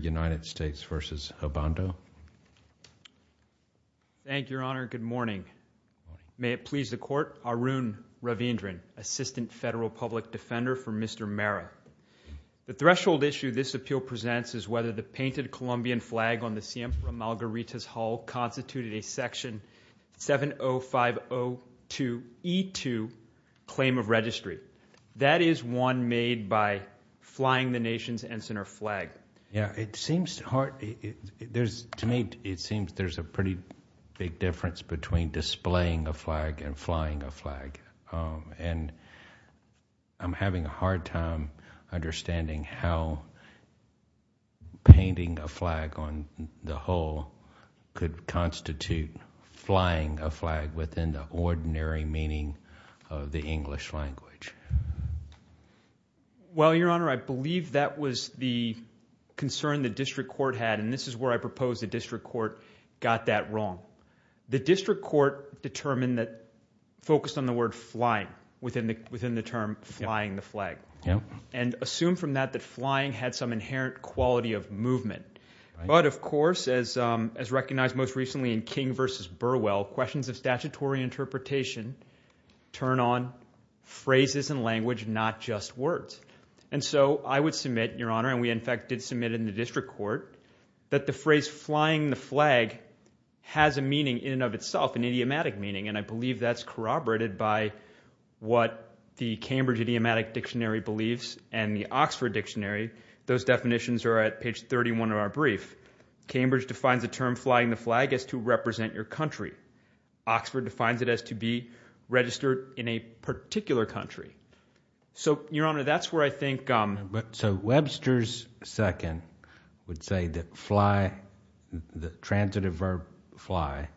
United States v. Obando. Thank you, Your Honor. Good morning. May it please the Court. Arun Ravindran, Assistant Federal Public Defender for Mr. Mera. The threshold issue this appeal presents is whether the painted Colombian flag on the Siempre Malgaritas Hall constituted a section 70502E2 claim of It seems hard. To me, it seems there's a pretty big difference between displaying a flag and flying a flag, and I'm having a hard time understanding how painting a flag on the hall could constitute flying a flag within the ordinary meaning of the English language. Well, Your Honor, I believe that was the concern the District Court had, and this is where I propose the District Court got that wrong. The District Court determined that, focused on the word flying within the term flying the flag, and assumed from that that flying had some inherent quality of movement. But, of course, as recognized most recently in King v. Burwell, questions of statutory interpretation turn on phrases and language, not just words. And so I would submit, Your Honor, and we in fact did submit in the District Court, that the phrase flying the flag has a meaning in and of itself, an idiomatic meaning, and I believe that's corroborated by what the Cambridge Idiomatic Dictionary believes and the Oxford Dictionary. Those definitions are at page 31 of our brief. Cambridge defines the term flying the flag as to represent your country. Oxford defines it as to be registered in a particular country. So, Your Honor, that's where I think... So Webster's second would say that fly, the transitive verb fly,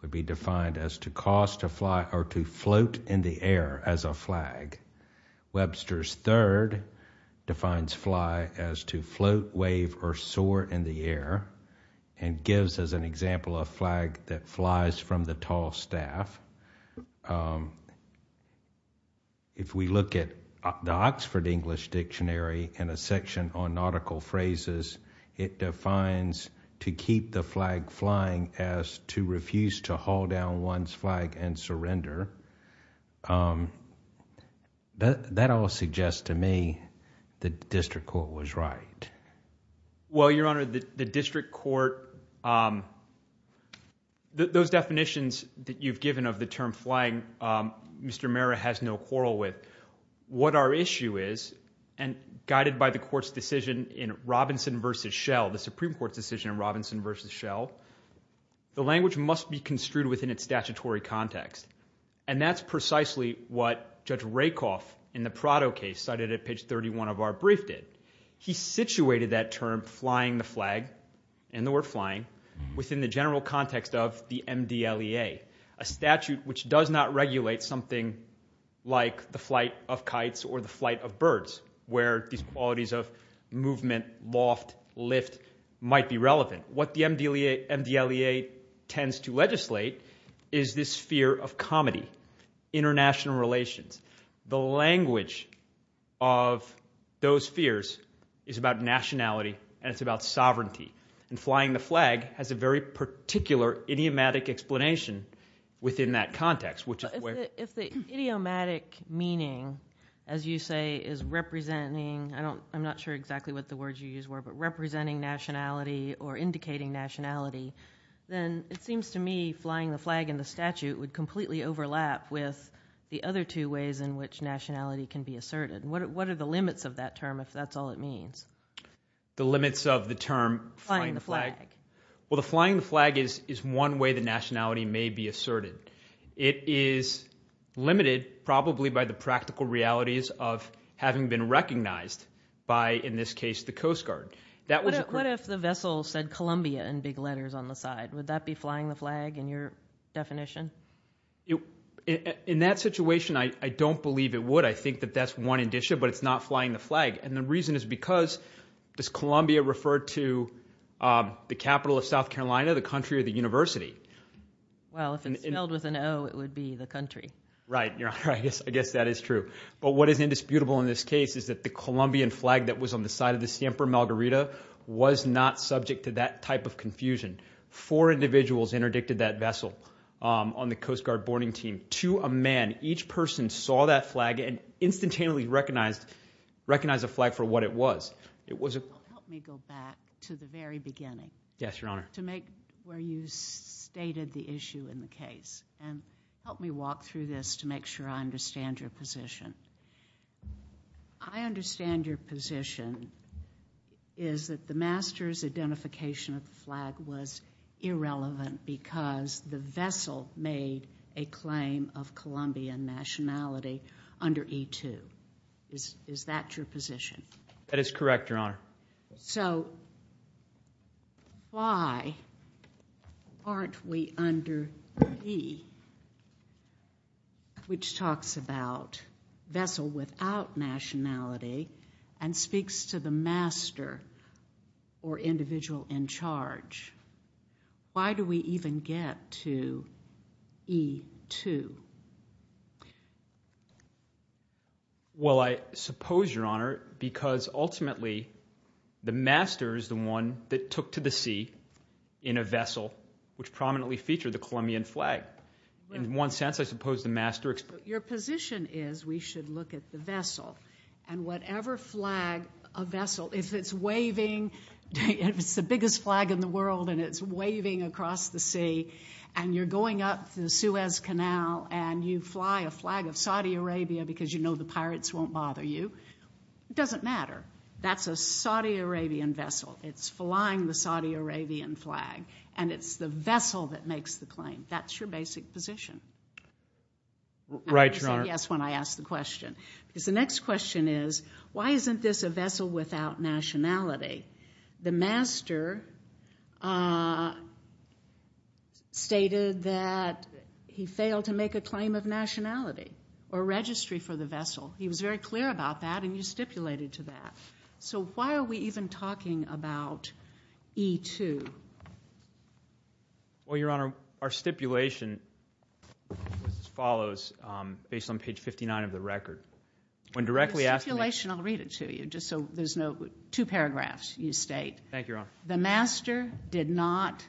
would be defined as to cause to fly or to float in the air as a flag. Webster's third defines fly as to float, wave, or soar in the air, and gives as an example a flag that flies from the tall staff. If we look at the Oxford English Dictionary in a section on nautical phrases, it defines to keep the flag flying as to refuse to haul down one's flag and surrender. That all suggests to me that the District Court was right. Well, Your Honor, the District Court, those definitions that you've given of the term flying, Mr. Mehra has no quarrel with. What our issue is, and guided by the Court's decision in Robinson versus Shell, the Supreme Court's decision in Robinson versus Shell, the language must be construed within its statutory context, and that's precisely what Judge Rakoff in the Prado case cited at page 10. He situated that term flying the flag, and the word flying, within the general context of the MDLEA, a statute which does not regulate something like the flight of kites or the flight of birds, where these qualities of movement, loft, lift, might be relevant. What the MDLEA tends to legislate is this fear of comedy, international relations. The language of those fears is about nationality and it's about sovereignty, and flying the flag has a very particular idiomatic explanation within that context. If the idiomatic meaning, as you say, is representing, I'm not sure exactly what the words you use were, but representing nationality or indicating nationality, then it seems to me flying the flag in the statute would completely overlap with the other two ways in which nationality can be asserted. What are the limits of that means? The limits of the term flying the flag? Well, the flying the flag is one way the nationality may be asserted. It is limited, probably, by the practical realities of having been recognized by, in this case, the Coast Guard. What if the vessel said Columbia in big letters on the side? Would that be flying the flag in your definition? In that situation, I don't believe it would. I think that that's one addition, but it's not flying the flag, and the reason is because does Columbia refer to the capital of South Carolina, the country or the university? Well, if it's spelled with an O, it would be the country. Right, yeah, I guess that is true, but what is indisputable in this case is that the Colombian flag that was on the side of the Siemper Margarita was not subject to that type of confusion. Four individuals interdicted that vessel on the Coast Guard boarding team. To a man, each person saw that flag and instantaneously recognized a flag for what it was. Help me go back to the very beginning. Yes, Your Honor. To make where you stated the issue in the case, and help me walk through this to make sure I understand your position. I understand your position is that the master's identification of the flag was irrelevant because the vessel made a claim of Colombian nationality under E-2. Is that your position? That is correct, Your Honor. So why aren't we under E, which talks about vessel without nationality and speaks to the master or individual in which case, how did we even get to E-2? Well, I suppose, Your Honor, because ultimately the master is the one that took to the sea in a vessel which prominently featured the Colombian flag. In one sense, I suppose the master... Your position is we should look at the vessel and whatever flag a vessel, if it's waving, if it's the biggest flag in the world and it's the sea and you're going up the Suez Canal and you fly a flag of Saudi Arabia because you know the pirates won't bother you, it doesn't matter. That's a Saudi Arabian vessel. It's flying the Saudi Arabian flag and it's the vessel that makes the claim. That's your basic position. Right, Your Honor. I said yes when I asked the question. The next question is, why isn't this a vessel without nationality? The master stated that he failed to make a claim of nationality or registry for the vessel. He was very clear about that and you stipulated to that. So why are we even talking about E-2? Well, Your Honor, our stipulation follows based on page 59 of the record. When directly asked... The stipulation, I'll read it to you, just so there's no... two paragraphs you state. Thank you, Your Honor. The master did not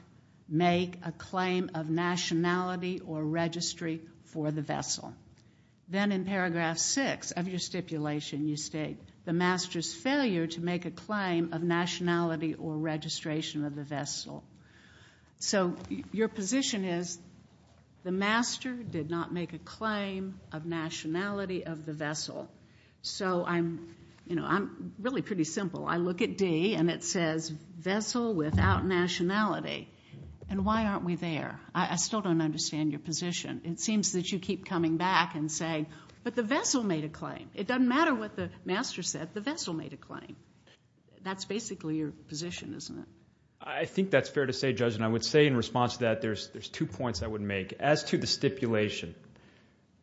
make a claim of nationality or registry for the vessel. Then in paragraph 6 of your stipulation you state the master's failure to make a claim of nationality or registration of the vessel. So your position is the vessel. So I'm, you know, I'm really pretty simple. I look at D and it says vessel without nationality. And why aren't we there? I still don't understand your position. It seems that you keep coming back and saying, but the vessel made a claim. It doesn't matter what the master said. The vessel made a claim. That's basically your position, isn't it? I think that's fair to say, Judge, and I would say in response to that there's two points I would make. As to the stipulation,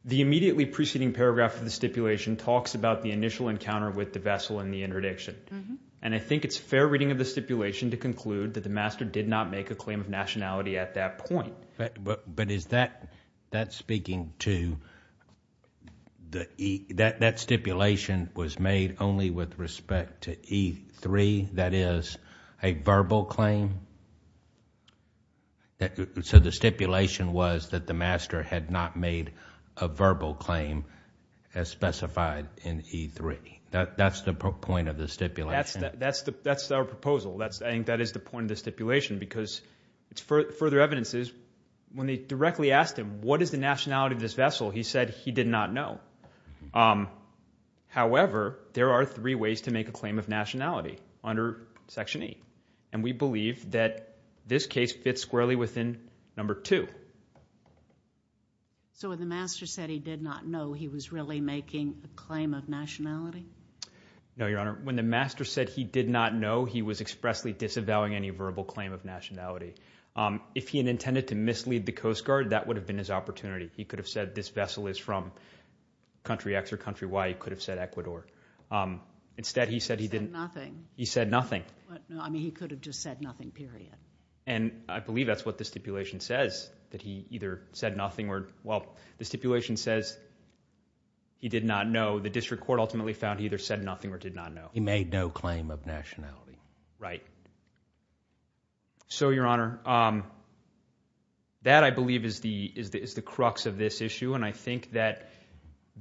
the stipulation talks about the initial encounter with the vessel and the interdiction. And I think it's fair reading of the stipulation to conclude that the master did not make a claim of nationality at that point. But is that speaking to... that stipulation was made only with respect to E3, that is, a verbal claim? So the stipulation was that the master had not made a verbal claim as specified in E3. That's the point of the stipulation. That's our proposal. I think that is the point of the stipulation because it's further evidence is when they directly asked him what is the nationality of this vessel, he said he did not know. However, there are three ways to make a claim of nationality under Section 8. And we So when the master said he did not know, he was really making a claim of nationality? No, Your Honor. When the master said he did not know, he was expressly disavowing any verbal claim of nationality. If he had intended to mislead the Coast Guard, that would have been his opportunity. He could have said this vessel is from country X or country Y. He could have said Ecuador. Instead, he said he didn't... He said nothing. He said nothing. I mean, he could have just said nothing, period. And I believe that's what the stipulation says, that he either said nothing or... Well, the stipulation says he did not know. The district court ultimately found he either said nothing or did not know. He made no claim of nationality. Right. So, Your Honor, that, I believe, is the crux of this issue. And I think that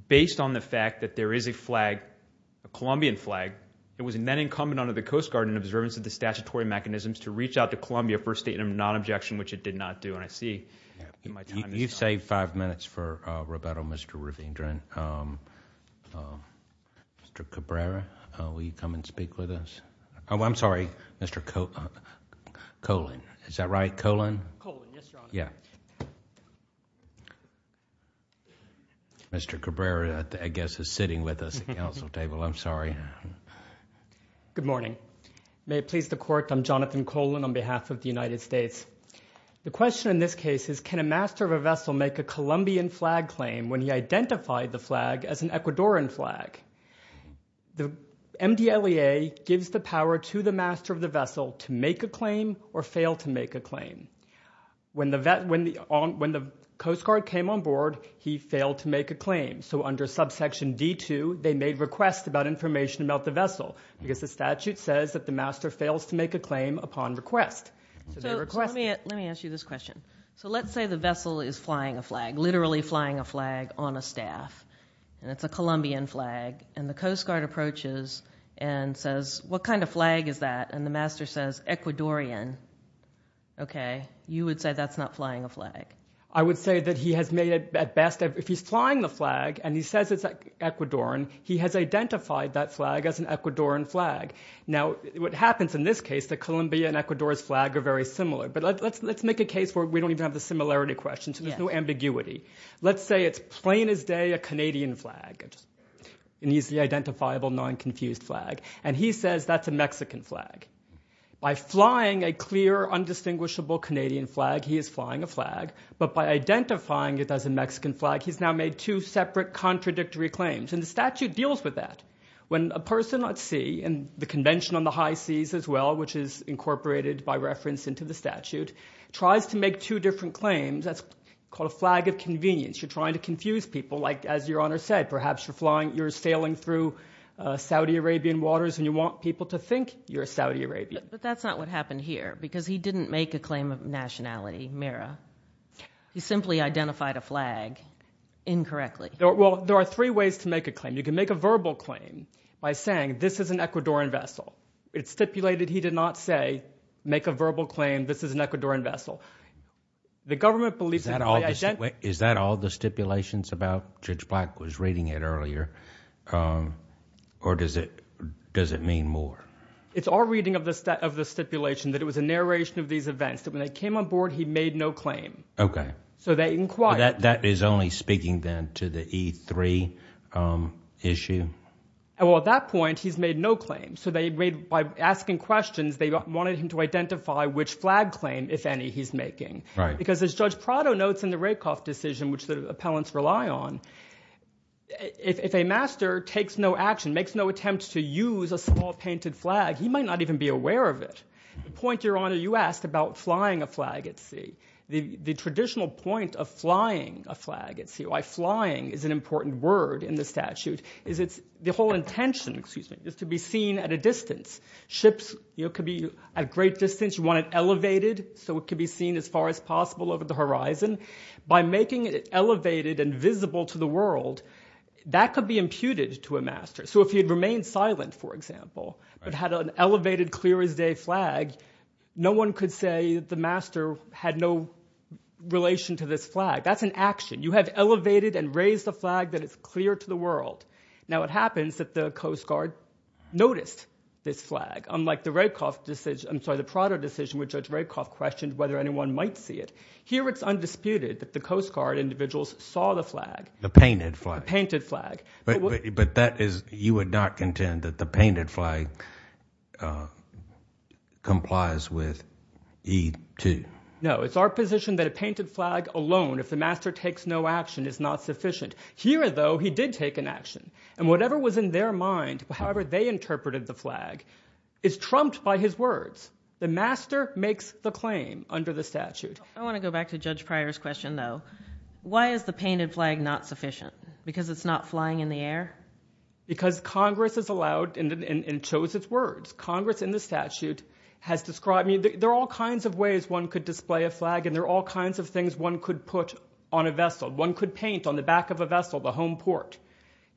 based on the fact that there is a flag, a Colombian flag, it was then incumbent on the Coast Guard in observance of the statutory mechanisms to reach out to Colombia for a statement of non-objection, which it did not do. And I see my time is up. You've saved five minutes for Roberto, Mr. Rivendren. Mr. Cabrera, will you come and speak with us? Oh, I'm sorry, Mr. Colan. Is that right? Colan? Colan, yes, Your Honor. Yeah. Mr. Cabrera, I guess, is sitting with us at the council table. I'm sorry. Good morning. May it please the court, I'm Jonathan Colan on behalf of the United States. The question in this case is can a master of a vessel make a Colombian flag claim when he identified the flag as an Ecuadorian flag? The MDLEA gives the power to the master of the vessel to make a claim or fail to make a claim. When the Coast Guard came on board, he failed to make a claim. So under subsection D2, they made requests about information about the vessel because the statute says that the master fails to make a claim upon request. Let me ask you this question. So let's say the vessel is flying a flag, literally flying a flag on a staff. It's a Colombian flag. The Coast Guard approaches and says what kind of flag is that? And the master says Ecuadorian. Okay. You would say that's not flying a flag. I would say that he has made it at best if he's flying the flag and he says it's Ecuadorian, he has identified that flag as an Ecuadorian flag. Now, what happens in this case, the Colombia and Ecuador's flag are very similar. But let's make a case where we don't even have the similarity question, so there's no ambiguity. Let's say it's plain as day a Canadian flag, an easily identifiable, non-confused flag, and he says that's a Mexican flag. By flying a clear, undistinguishable Canadian flag, he is flying a flag. But by identifying it as a Mexican flag, he's now made two separate contradictory claims. And the statute deals with that. When a person at sea, and the Convention on the High Seas as well, which is incorporated by reference into the statute, tries to make two different claims, that's called a flag of convenience. You're trying to confuse people, like as your Honor said, perhaps you're sailing through Saudi Arabian waters and you want people to think you're a Saudi Arabian. But that's not what happened here, because he didn't make a claim of nationality, Mira. He simply identified a flag incorrectly. Well, there are three ways to make a claim. You can make a verbal claim by saying, this is an Ecuadorian vessel. It's stipulated he did not say, make a verbal claim, this is an Ecuadorian vessel. The government believes that by identifying... Is that all the stipulations about Judge Black was reading it earlier? Or does it mean more? It's our reading of the stipulation, that it was a narration of these events, that when they came on board, he made no claim. Okay. So they inquired... That is only speaking then to the E3 issue? Well, at that point, he's made no claim. So they made, by asking questions, they wanted him to identify which flag claim, if any, he's making. Because as Judge Prado notes in the Rakoff decision, which the appellants rely on, if a master takes no action, makes no attempt to use a small painted flag, he might not even be aware of it. The point, Your Honor, you asked about flying a flag at sea. The traditional point of flying a flag at sea, why flying is an important word in the statute, is it's the whole intention, excuse me, is to be seen at a distance. Ships could be at great distance, you want it elevated so it could be seen as far as possible over the horizon. By making it elevated and visible to the world, that could be imputed to a master. So if he had remained silent, for example, but had an elevated, clear as day flag, no one could say that the master had no relation to this flag. That's an action. You have elevated and raised a flag that is clear to the world. Now it happens that the Coast Guard noticed this flag, unlike the Rakoff decision, I'm sorry, the Prado decision, which Judge Rakoff questioned whether anyone might see it. Here it's undisputed that the Coast Guard individuals saw the flag. The painted flag. But that is, you would not contend that the painted flag complies with E2? No, it's our position that a painted flag alone, if the master takes no action, is not sufficient. Here, though, he did take an action. And whatever was in their mind, however they interpreted the flag, is trumped by his words. The master makes the claim under the statute. I want to go back to Judge Pryor's question, though. Why is the painted flag not sufficient? Because it's not flying in the air? Because Congress has allowed and chose its words. Congress in the statute has described me, there are all kinds of ways one could display a flag and there are all kinds of things one could put on a vessel. One could paint on the back of a vessel, the home port.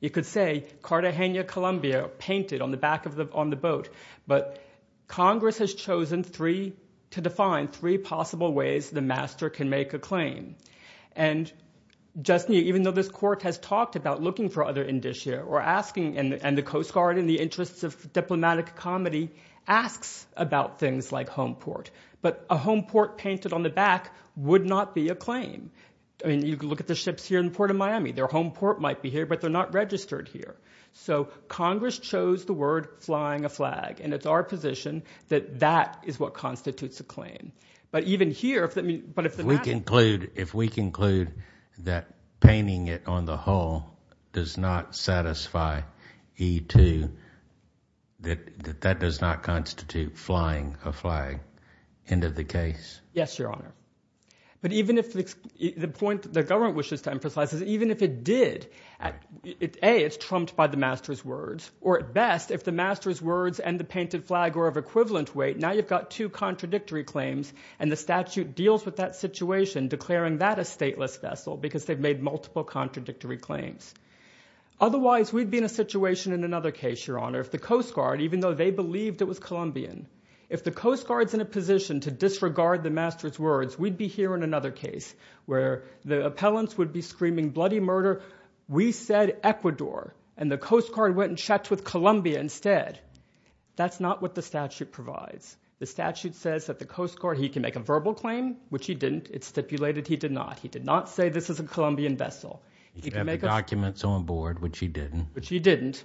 You could say, Cartagena, Colombia, painted on the back of the, on the boat. But Congress has chosen three, to define three possible ways the master can make a claim. And just telling you, even though this court has talked about looking for other indicia or asking, and the Coast Guard, in the interests of diplomatic comedy, asks about things like home port. But a home port painted on the back would not be a claim. I mean, you can look at the ships here in the Port of Miami. Their home port might be here, but they're not registered here. So Congress chose the word flying a flag. And it's our position that that is what constitutes a claim. But even here, if the master... Painting it on the hull does not satisfy E2, that that does not constitute flying a flag. End of the case. Yes, Your Honor. But even if the point the government wishes to emphasize is even if it did, A, it's trumped by the master's words. Or at best, if the master's words and the painted flag were of equivalent weight, now you've got two contradictory claims and the statute deals with that situation, declaring that a stateless vessel, because they've made multiple contradictory claims. Otherwise, we'd be in a situation in another case, Your Honor, if the Coast Guard, even though they believed it was Colombian, if the Coast Guard's in a position to disregard the master's words, we'd be here in another case, where the appellants would be screaming bloody murder, we said Ecuador, and the Coast Guard went and checked with Colombia instead. That's not what the statute provides. The statute says that the Coast Guard, he can make a verbal claim, which he didn't. It stipulated he did not. He did not say this is a Colombian vessel. He could have the documents on board, which he didn't. Which he didn't.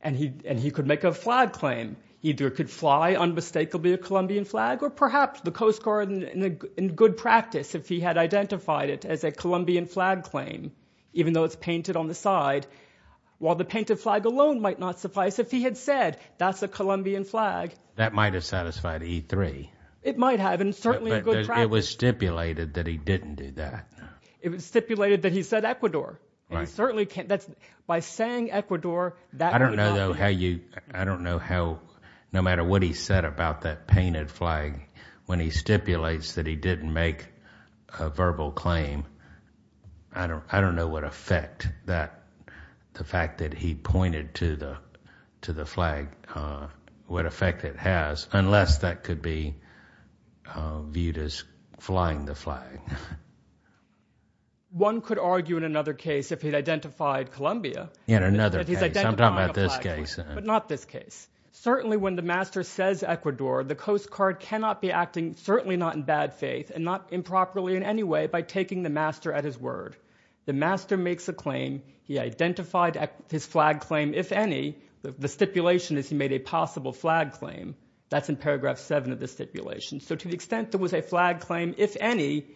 And he could make a flag claim. He either could fly unmistakably a Colombian flag, or perhaps the Coast Guard, in good practice, if he had identified it as a Colombian flag claim, even though it's painted on the side, while the painted flag alone might not suffice, if he had said, that's a Colombian flag. That might have satisfied E3. It might have, and certainly in good practice. But it was stipulated that he didn't do that. It was stipulated that he said Ecuador. And he certainly can't, that's, by saying Ecuador, that would not be... I don't know, though, how you, I don't know how, no matter what he said about that painted flag, when he stipulates that he didn't make a verbal claim, I don't know what effect that, the fact that he pointed to the flag, what effect it has, unless that could be viewed as flying the flag. One could argue, in another case, if he'd identified Colombia. In another case. That he's identifying a flag claim. I'm talking about this case. But not this case. Certainly when the master says Ecuador, the Coast Guard cannot be acting, certainly not in bad faith, and not improperly in any way, by taking the master at his word. The master makes a claim, he identified his flag claim, if any, the stipulation is he made a possible flag claim. That's in paragraph seven of the stipulation. So to the extent there was a flag claim, if any,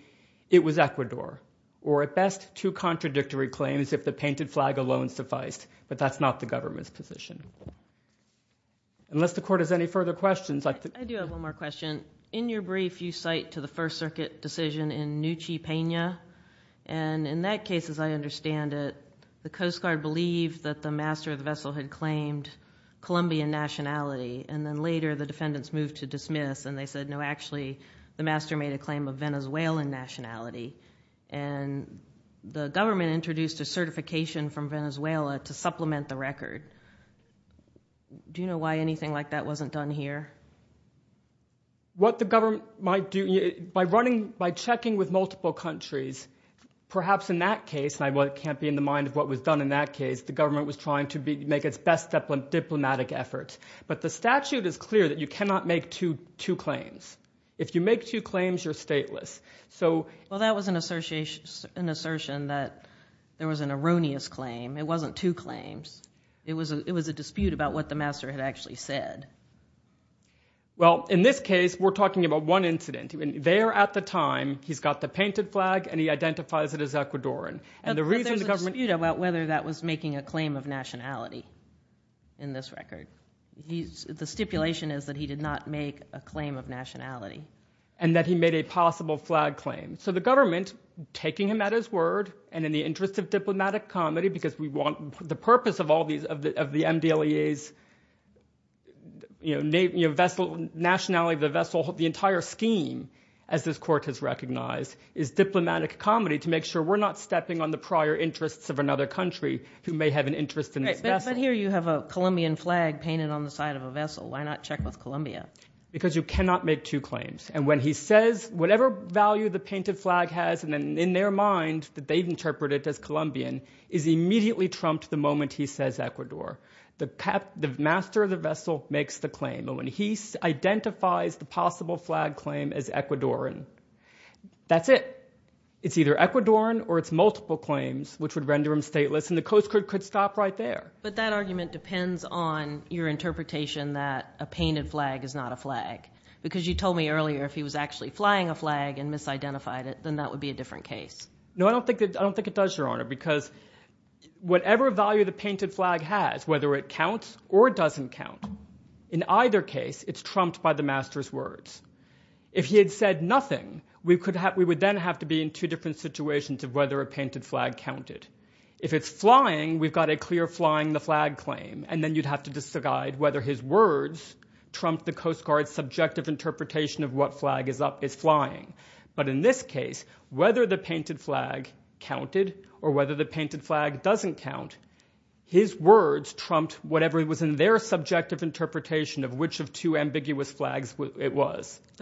it was Ecuador. Or at best, two contradictory claims, if the painted flag alone sufficed. But that's not the government's position. Unless the court has any further questions. I do have one more question. In your brief, you cite to the First Circuit decision in Nuchi Pena, and in that case, as I understand it, the Coast Guard believed that the master of the vessel had claimed Colombian nationality. And then later, the defendants moved to dismiss, and they said, no, actually, the master made a claim of Venezuelan nationality. And the government introduced a certification from Venezuela to supplement the record. Do you know why anything like that wasn't done here? What the government might do, by running, by checking with multiple countries, perhaps in that case, I can't be in the mind of what was done in that case, the government was trying to make its best diplomatic efforts. But the statute is clear that you cannot make two claims. If you make two claims, you're stateless. So... Well, that was an assertion that there was an erroneous claim. It wasn't two claims. It was a dispute about what the master had actually said. Well, in this case, we're talking about one incident. There at the time, he's got the painted flag, and he identifies it as Ecuadorian. But there's a dispute about whether that was making a claim of nationality in this record. The stipulation is that he did not make a claim of nationality. And that he made a possible flag claim. So the government, taking him at his word, and in the interest of diplomatic comedy, because we want the purpose of all these, of the MDLEA's nationality of the vessel, the entire scheme, as this court has recognized, is diplomatic comedy to make sure we're not stepping on the prior interests of another country who may have an interest in this vessel. But here you have a Colombian flag painted on the side of a vessel. Why not check with Colombia? Because you cannot make two claims. And when he says, whatever value the painted flag has in their mind, that they've interpreted as Colombian, is immediately trumped the moment he says Ecuador. The master of the vessel makes the claim. And when he identifies the possible flag claim as Ecuadorian, that's it. It's either Ecuadorian or it's multiple claims, which would render him stateless. And the Coast Guard could stop right there. But that argument depends on your interpretation that a painted flag is not a flag. Because you told me earlier, if he was actually flying a flag and misidentified it, then that would be a different case. No, I don't think it does, Your Honor. Because whatever value the painted flag has, whether it counts or it doesn't count, in either case, it's trumped by the master's words. If he had said nothing, we would then have to be in two different situations of whether a painted flag counted. If it's flying, we've got a clear flying the flag claim. And then you'd have to decide whether his words trump the Coast Guard's subjective interpretation of what flag is flying. But in this case, whether the painted flag counted or whether the painted flag doesn't count, his words trumped whatever was in their subjective interpretation of which of two But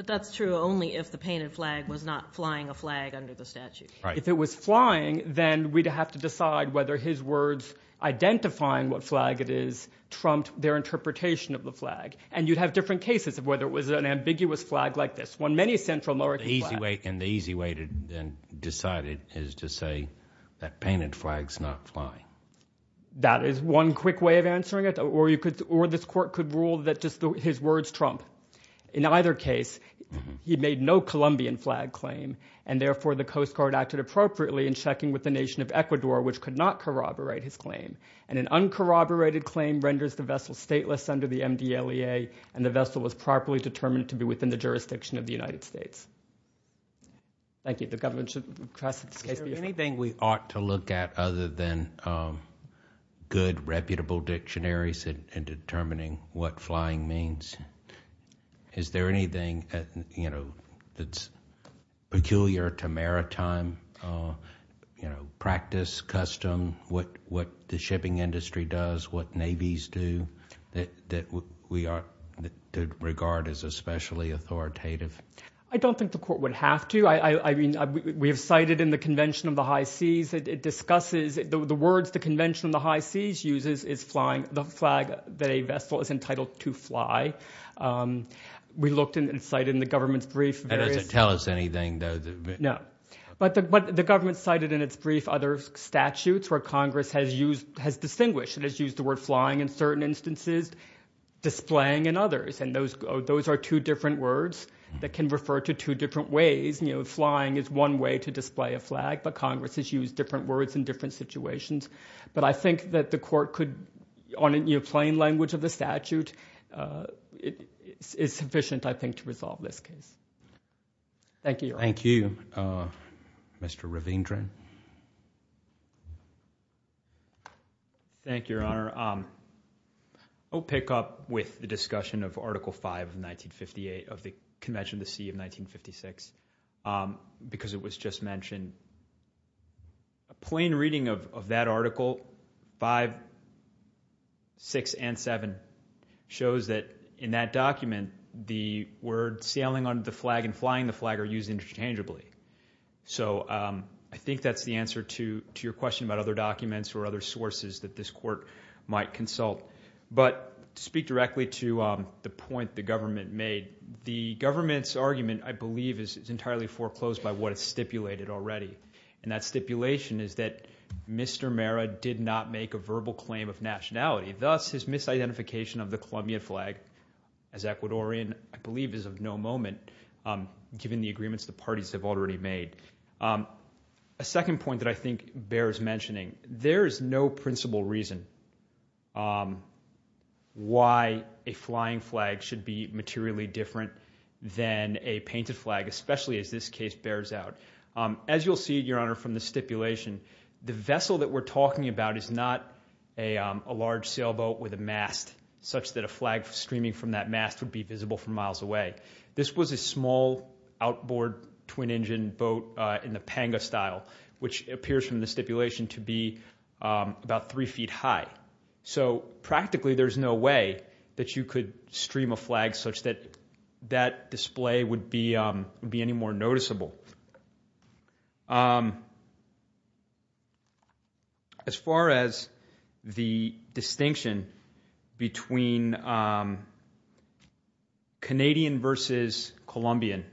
that's true only if the painted flag was not flying a flag under the statute. If it was flying, then we'd have to decide whether his words identifying what flag it is trumped their interpretation of the flag. And you'd have different cases of whether it was an ambiguous flag like this, one many Central American flags. And the easy way to decide it is to say that painted flag's not flying. That is one quick way of answering it. Or this court could rule that just his words trump. In either case, he made no Colombian flag claim. And therefore, the Coast Guard acted appropriately in checking with the nation of Ecuador, which could not corroborate his claim. And an uncorroborated claim renders the vessel stateless under the MDLEA. And the vessel was properly determined to be within the jurisdiction of the United States. Thank you. The government should request that this case be referred to. Is there anything we ought to look at other than good, reputable dictionaries in determining what flying means? Is there anything that's peculiar to maritime practice, custom, what the shipping industry does, what navies do, that we ought to regard as especially authoritative? I don't think the court would have to. We have cited in the Convention of the High Seas that it discusses the words the Convention of the High Seas uses is flying the flag that a vessel is entitled to fly. We looked and cited in the government's brief various... That doesn't tell us anything, though. No. But the government cited in its brief other statutes where Congress has distinguished and has used the word flying in certain instances, displaying in others. And those are two different words that can refer to two different ways. Flying is one way to display a flag, but Congress has used different words in different situations. But I think that the court could, on a plain language of the statute, it's sufficient, I think, to resolve this case. Thank you, Your Honor. Thank you. Mr. Ravindran. Thank you, Your Honor. I'll pick up with the discussion of Article V of 1958 of the Convention of the Sea of Articles 5, 6, and 7 shows that in that document, the word sailing under the flag and flying the flag are used interchangeably. So I think that's the answer to your question about other documents or other sources that this court might consult. But to speak directly to the point the government made, the government's argument, I believe, is entirely foreclosed by what is stipulated already. And that stipulation is that Mr. Mara did not make a verbal claim of nationality. Thus, his misidentification of the Colombian flag as Ecuadorian, I believe, is of no moment given the agreements the parties have already made. A second point that I think bears mentioning, there is no principal reason why a flying flag should be materially different than a painted flag, especially as this case bears out. As you'll see, Your Honor, from the stipulation, the vessel that we're talking about is not a large sailboat with a mast such that a flag streaming from that mast would be visible from miles away. This was a small outboard twin-engine boat in the panga style, which appears from the stipulation to be about three feet high. So practically, there's no way that you could stream a flag such that that display would be any more noticeable. As far as the distinction between Canadian versus Colombian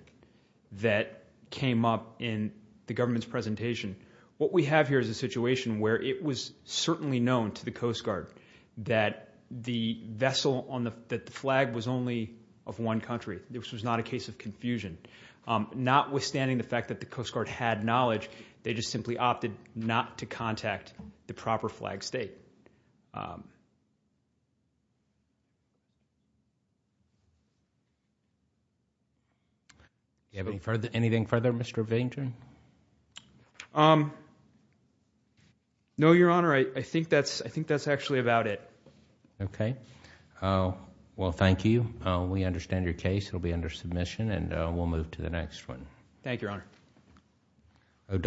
that came up in the government's presentation, what we have here is a situation where it was certainly known to the Coast Guard that the vessel on the flag was only of one country. This was not a case of confusion. Notwithstanding the fact that the Coast Guard had knowledge, they just simply opted not to contact the proper flag state. Do you have anything further, Mr. Bainter? No, Your Honor. I think that's actually about it. Okay. Well, thank you. We understand your case. It'll be under submission and we'll move to the next one. Thank you, Your Honor.